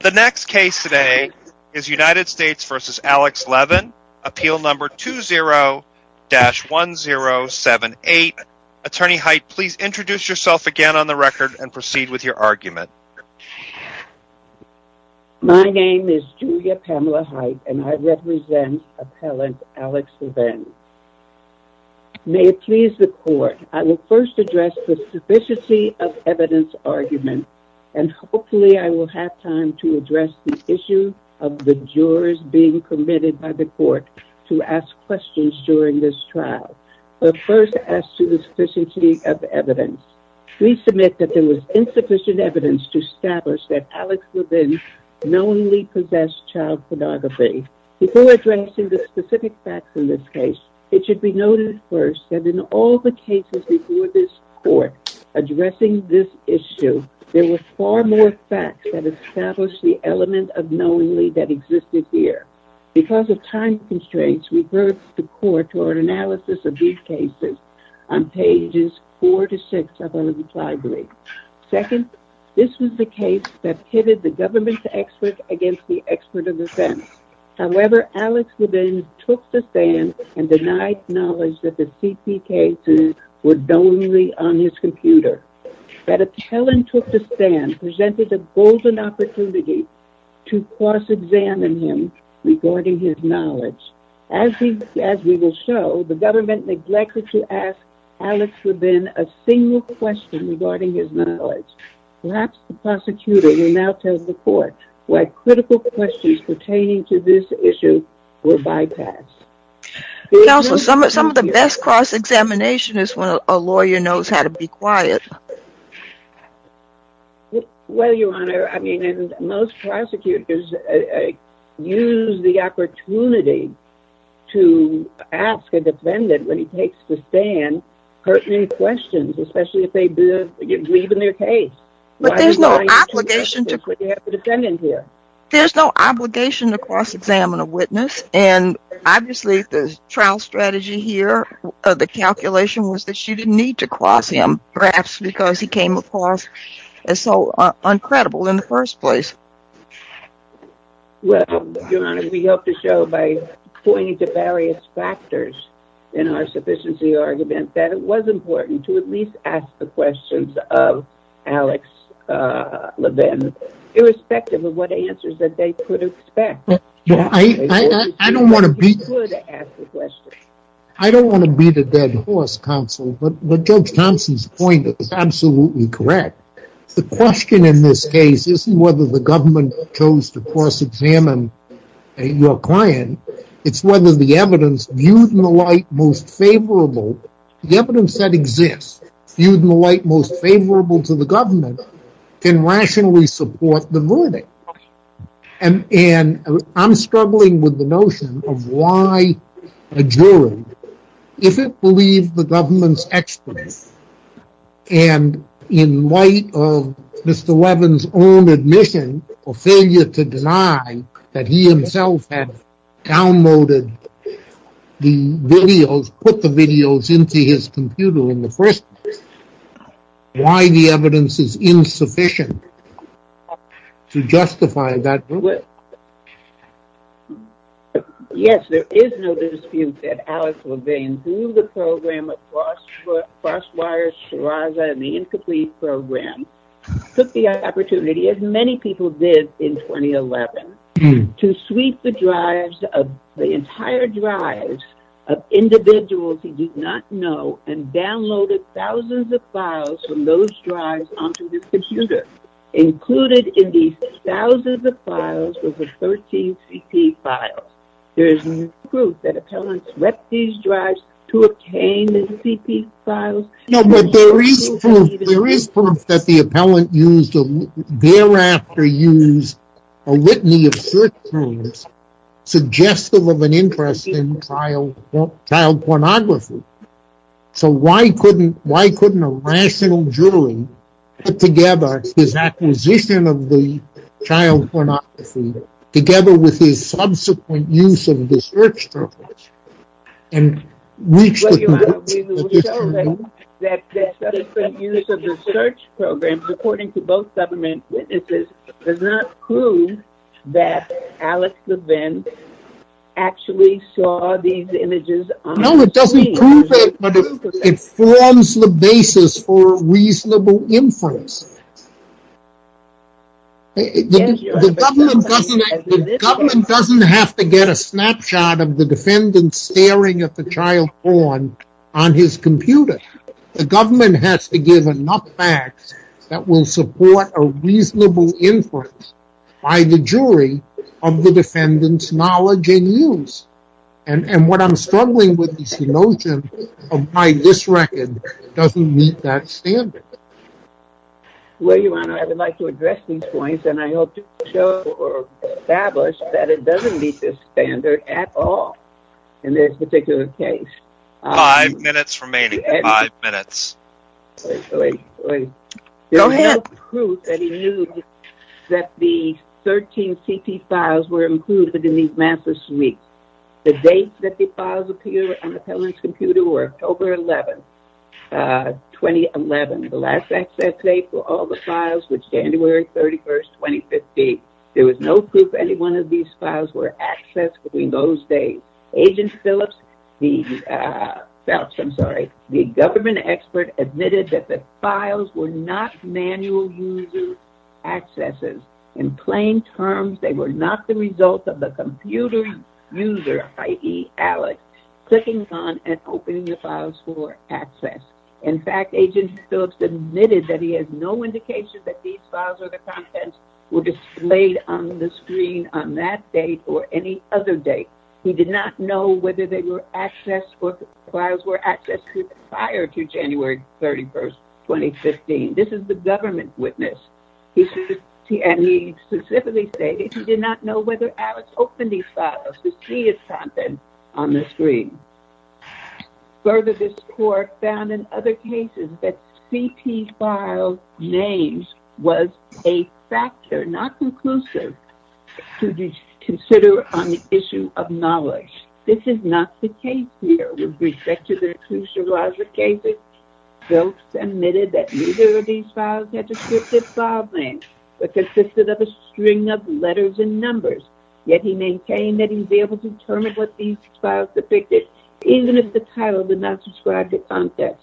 The next case today is United States v. Alex Levin, appeal number 20-1078. Attorney Heit, please introduce yourself again on the record and proceed with your argument. My name is Julia Pamela Heit and I represent appellant Alex Levin. May it please the court, I will first address the sufficiency of evidence argument and hopefully I will have time to address the issue of the jurors being committed by the court to ask questions during this trial. But first as to the sufficiency of evidence, please submit that there was insufficient evidence to establish that Alex Levin knowingly possessed child pornography. Before addressing the specific facts in this case, it should be noted first that in all the cases before this court addressing this issue, there were far more facts that established the element of knowingly that existed here. Because of time constraints, we refer the court to our analysis of these cases on pages 4-6 of our reply brief. Second, this was the case that pitted the government expert against the expert of defense. However, Alex Levin took the stand and denied knowledge that the CP cases were done only on his computer. That appellant took the stand presented a golden opportunity to cross examine him regarding his knowledge. As we will show, the government neglected to ask Alex Levin a single question regarding his knowledge. Perhaps the prosecutor will now tell the court why critical questions pertaining to this issue were bypassed. Counsel, some of the best cross examination is when a lawyer knows how to be quiet. Well, Your Honor, I mean, most prosecutors use the opportunity to ask a defendant when he takes the stand pertinent questions, especially if they believe in their case. But there's no obligation to cross examine a witness. And obviously, the trial strategy here, the calculation was that she didn't need to cross him, perhaps because he came across as so uncredible in the first place. Well, Your Honor, we hope to show by pointing to various factors in our sufficiency argument that it was important to at least ask the questions of Alex Levin, irrespective of what answers that they could expect. I don't want to beat a dead horse, counsel, but Judge Thompson's point is absolutely correct. The question in this case isn't whether the government chose to cross examine your client. It's whether the evidence viewed in the light most favorable, the evidence that exists, viewed in the light most favorable to the government, can rationally support the verdict. And I'm struggling with the notion of why a jury, if it believed the government's experts, and in light of Mr. Levin's own admission or failure to deny that he himself had downloaded the videos, put the videos into his computer in the first place, why the evidence is insufficient to justify that ruling. Yes, there is no dispute that Alex Levin, through the program of Crossfire Shiraz and the Incomplete Program, took the opportunity, as many people did in 2011, to sweep the drives, the entire drives, of individuals he did not know and downloaded thousands of files from those drives onto his computer, included in these thousands of files over 13 CP files. There is no proof that the appellant swept these drives to obtain the CP files. No, but there is proof that the appellant thereafter used a litany of search terms suggestive of an interest in child pornography. So why couldn't a rational jury put together his acquisition of the child pornography, together with his subsequent use of the search terms, and reach the convicts? Well, Your Honor, we will show that the subsequent use of the search program, according to both government witnesses, does not prove that Alex Levin actually saw these images on the screen. No, it doesn't prove it, but it forms the basis for reasonable inference. The government doesn't have to get a snapshot of the defendant staring at the child porn on his computer. The government has to give enough facts that will support a reasonable inference by the jury of the defendant's knowledge and use. And what I'm struggling with is the notion of why this record doesn't meet that standard. Well, Your Honor, I would like to address these points, and I hope to show or establish that it doesn't meet this standard at all in this particular case. Five minutes remaining. Five minutes. There was no proof that he knew that the 13 CT files were included in these massive leaks. The dates that the files appeared on the defendant's computer were October 11, 2011. The last access date for all the files was January 31, 2015. There was no proof any one of these files were accessed between those days. Agent Phillips, the government expert, admitted that the files were not manual user accesses. In plain terms, they were not the result of the computer user, i.e., Alex, clicking on and opening the files for access. In fact, Agent Phillips admitted that he has no indication that these files or the contents were displayed on the screen on that date or any other date. He did not know whether the files were accessed prior to January 31, 2015. This is the government witness. He specifically stated he did not know whether Alex opened these files to see his contents on the screen. Further, this court found in other cases that CT file names was a factor, not conclusive, to be considered on the issue of knowledge. This is not the case here. With respect to the two Seraja cases, Phillips admitted that neither of these files had descriptive file names but consisted of a string of letters and numbers. Yet he maintained that he was able to determine what these files depicted, even if the title did not describe the contents.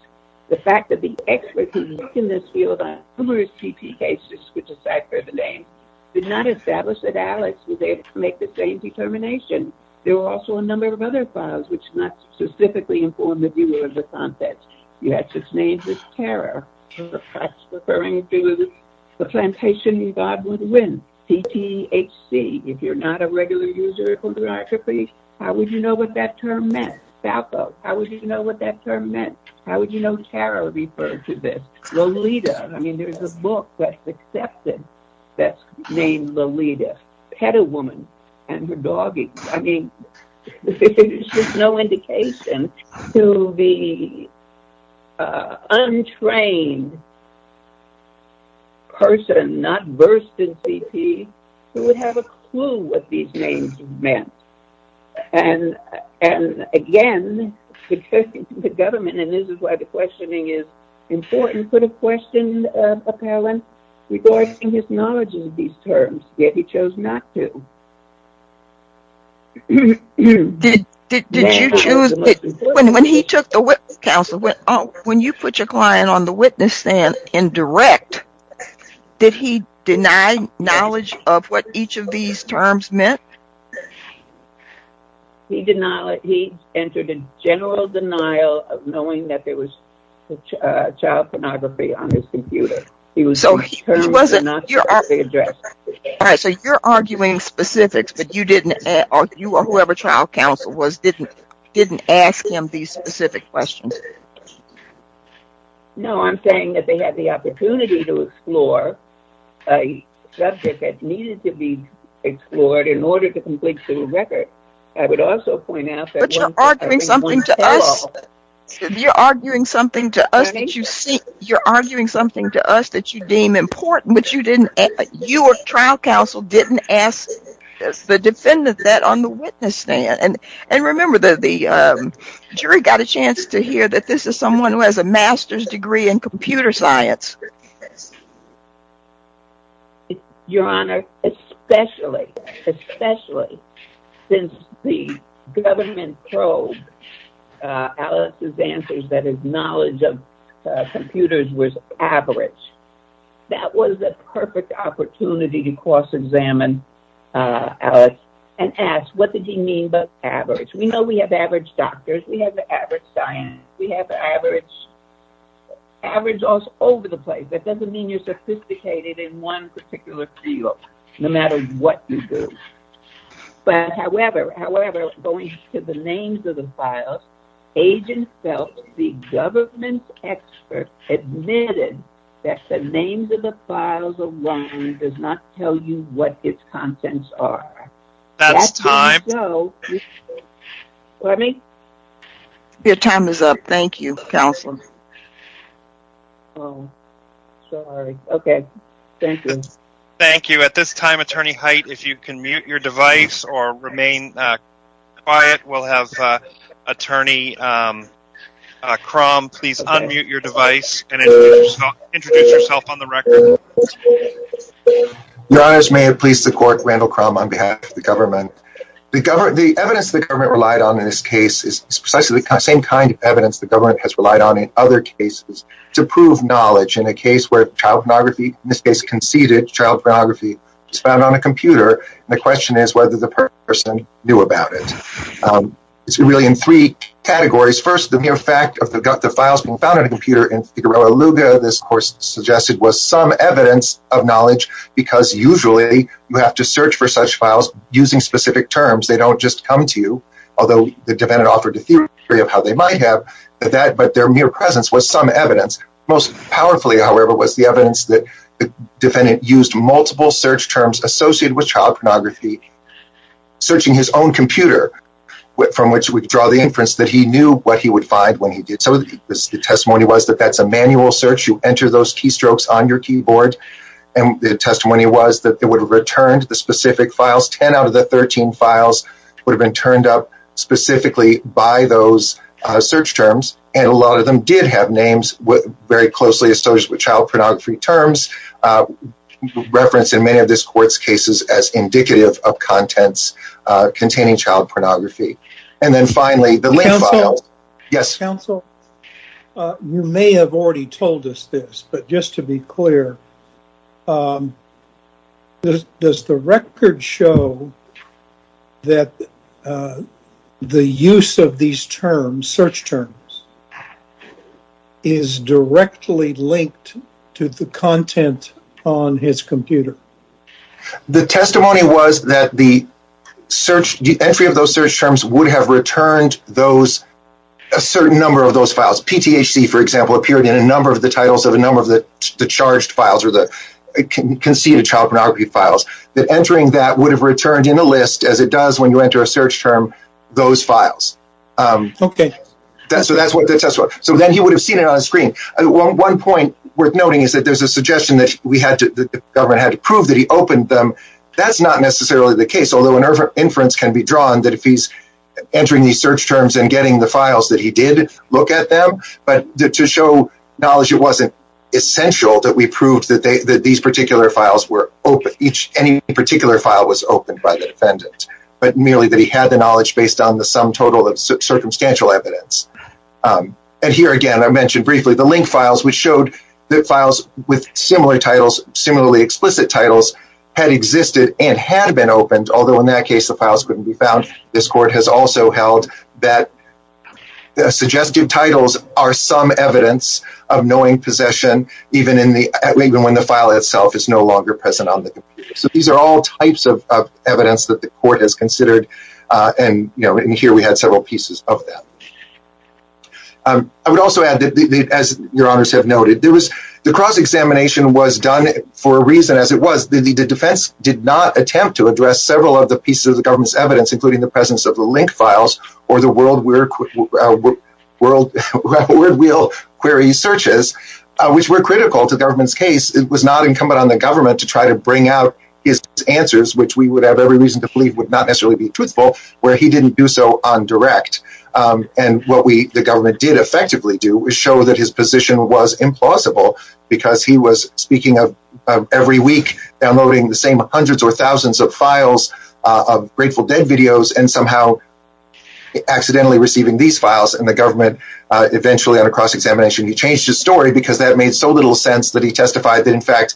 The fact that the experts who work in this field on numerous CT cases, which aside for the name, did not establish that Alex was able to make the same determination. There were also a number of other files which did not specifically inform the viewer of the contents. You had such names as Tara, referring to the plantation you thought would win, PTHC. If you're not a regular user of photography, how would you know what that term meant? Falco, how would you know what that term meant? How would you know Tara referred to this? Lolita. I mean, there's a book that's accepted that's named Lolita. Petta Woman and her doggie. I mean, there's just no indication to the untrained person, not versed in CT, who would have a clue what these names meant. And again, the government, and this is why the questioning is important, put a question, apparellant, regarding his knowledge of these terms. Yet he chose not to. When he took the witness counsel, when you put your client on the witness stand in direct, did he deny knowledge of what each of these terms meant? He entered a general denial of knowing that there was child pornography on his computer. So, you're arguing specifics, but you or whoever trial counsel was, didn't ask him these specific questions? No, I'm saying that they had the opportunity to explore a subject that needed to be explored in order to complete civil record. I would also point out that... But you're arguing something to us that you deem important, but you or trial counsel didn't ask the defendant that on the witness stand. And remember, the jury got a chance to hear that this is someone who has a master's degree in computer science. Your Honor, especially, especially, since the government probed Alex's answers that his knowledge of computers was average, that was a perfect opportunity to cross-examine Alex and ask, what did he mean by average? We know we have average doctors, we have average scientists, we have average, average all over the place. That doesn't mean you're sophisticated in one particular field, no matter what you do. But however, however, going to the names of the files, agent felt the government's expert admitted that the names of the files alone does not tell you what its contents are. That's time. Pardon me? Your time is up. Thank you, Counselor. Oh, sorry. Okay. Thank you. Thank you. At this time, Attorney Height, if you can mute your device or remain quiet, we'll have Attorney Crum please unmute your device and introduce yourself on the record. Your Honors, may it please the court, Randall Crum on behalf of the government. The evidence the government relied on in this case is precisely the same kind of evidence the government has relied on in other cases to prove knowledge in a case where child pornography, in this case conceded child pornography, is found on a computer, and the question is whether the person knew about it. It's really in three categories. First, the mere fact of the files being found on a computer in Figueroa Luga, this, of course, suggested was some evidence of knowledge because usually you have to search for such files using specific terms. They don't just come to you, although the defendant offered a theory of how they might have, but their mere presence was some evidence. Most powerfully, however, was the evidence that the defendant used multiple search terms associated with child pornography, searching his own computer, from which we draw the inference that he knew what he would find when he did so. The testimony was that that's a manual search. You enter those keystrokes on your keyboard, and the testimony was that it would have returned the specific files. Ten out of the 13 files would have been turned up specifically by those search terms, and a lot of them did have names very closely associated with child pornography terms, referenced in many of this court's cases as indicative of contents containing child pornography. And then finally, the link file. Yes. Counsel, you may have already told us this, but just to be clear, does the record show that the use of these terms, search terms, is directly linked to the content on his computer? The testimony was that the search, the entry of those search terms would have returned those, a certain number of those files. PTHC, for example, appeared in a number of the titles of a number of the charged files or the conceded child pornography files. That entering that would have returned in a list, as it does when you enter a search term, those files. Okay. So that's what the testimony, so then he would have seen it on screen. One point worth noting is that there's a suggestion that we had to, the government had to prove that he opened them. That's not necessarily the case, although an inference can be drawn that if he's entering these search terms and getting the files that he did look at them, but to show knowledge it wasn't essential that we proved that these particular files were open, any particular file was opened by the defendant, but merely that he had the knowledge based on the sum total of circumstantial evidence. And here again, I mentioned briefly the link files, which showed that files with similarly explicit titles had existed and had been opened, although in that case the files couldn't be found. This court has also held that suggestive titles are some evidence of knowing possession, even when the file itself is no longer present on the computer. So these are all types of evidence that the court has considered, and here we had several pieces of that. I would also add, as your honors have noted, the cross-examination was done for a reason as it was. The defense did not attempt to address several of the pieces of the government's evidence, including the presence of the link files or the word wheel query searches, which were critical to the government's case. It was not incumbent on the government to try to bring out his answers, which we would have every reason to believe would not necessarily be truthful, where he didn't do so on direct. And what the government did effectively do was show that his position was implausible, because he was speaking of every week downloading the same hundreds or thousands of files, of Grateful Dead videos, and somehow accidentally receiving these files, and the government eventually, on a cross-examination, changed his story, because that made so little sense that he testified that, in fact,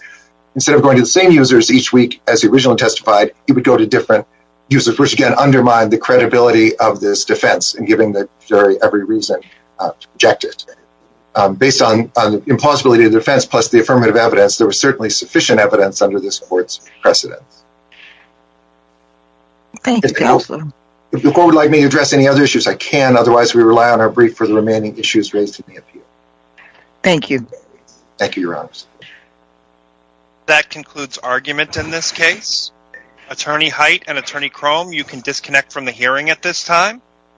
instead of going to the same users each week as he originally testified, he would go to different users, which again undermined the credibility of this defense, in giving the jury every reason to reject it. Based on the implausibility of the defense, plus the affirmative evidence, there was certainly sufficient evidence under this court's precedence. If the court would like me to address any other issues, I can. Otherwise, we rely on our brief for the remaining issues raised in the appeal. Thank you. Thank you, your honors. That concludes argument in this case. Attorney Height and Attorney Crome, you can disconnect from the hearing at this time.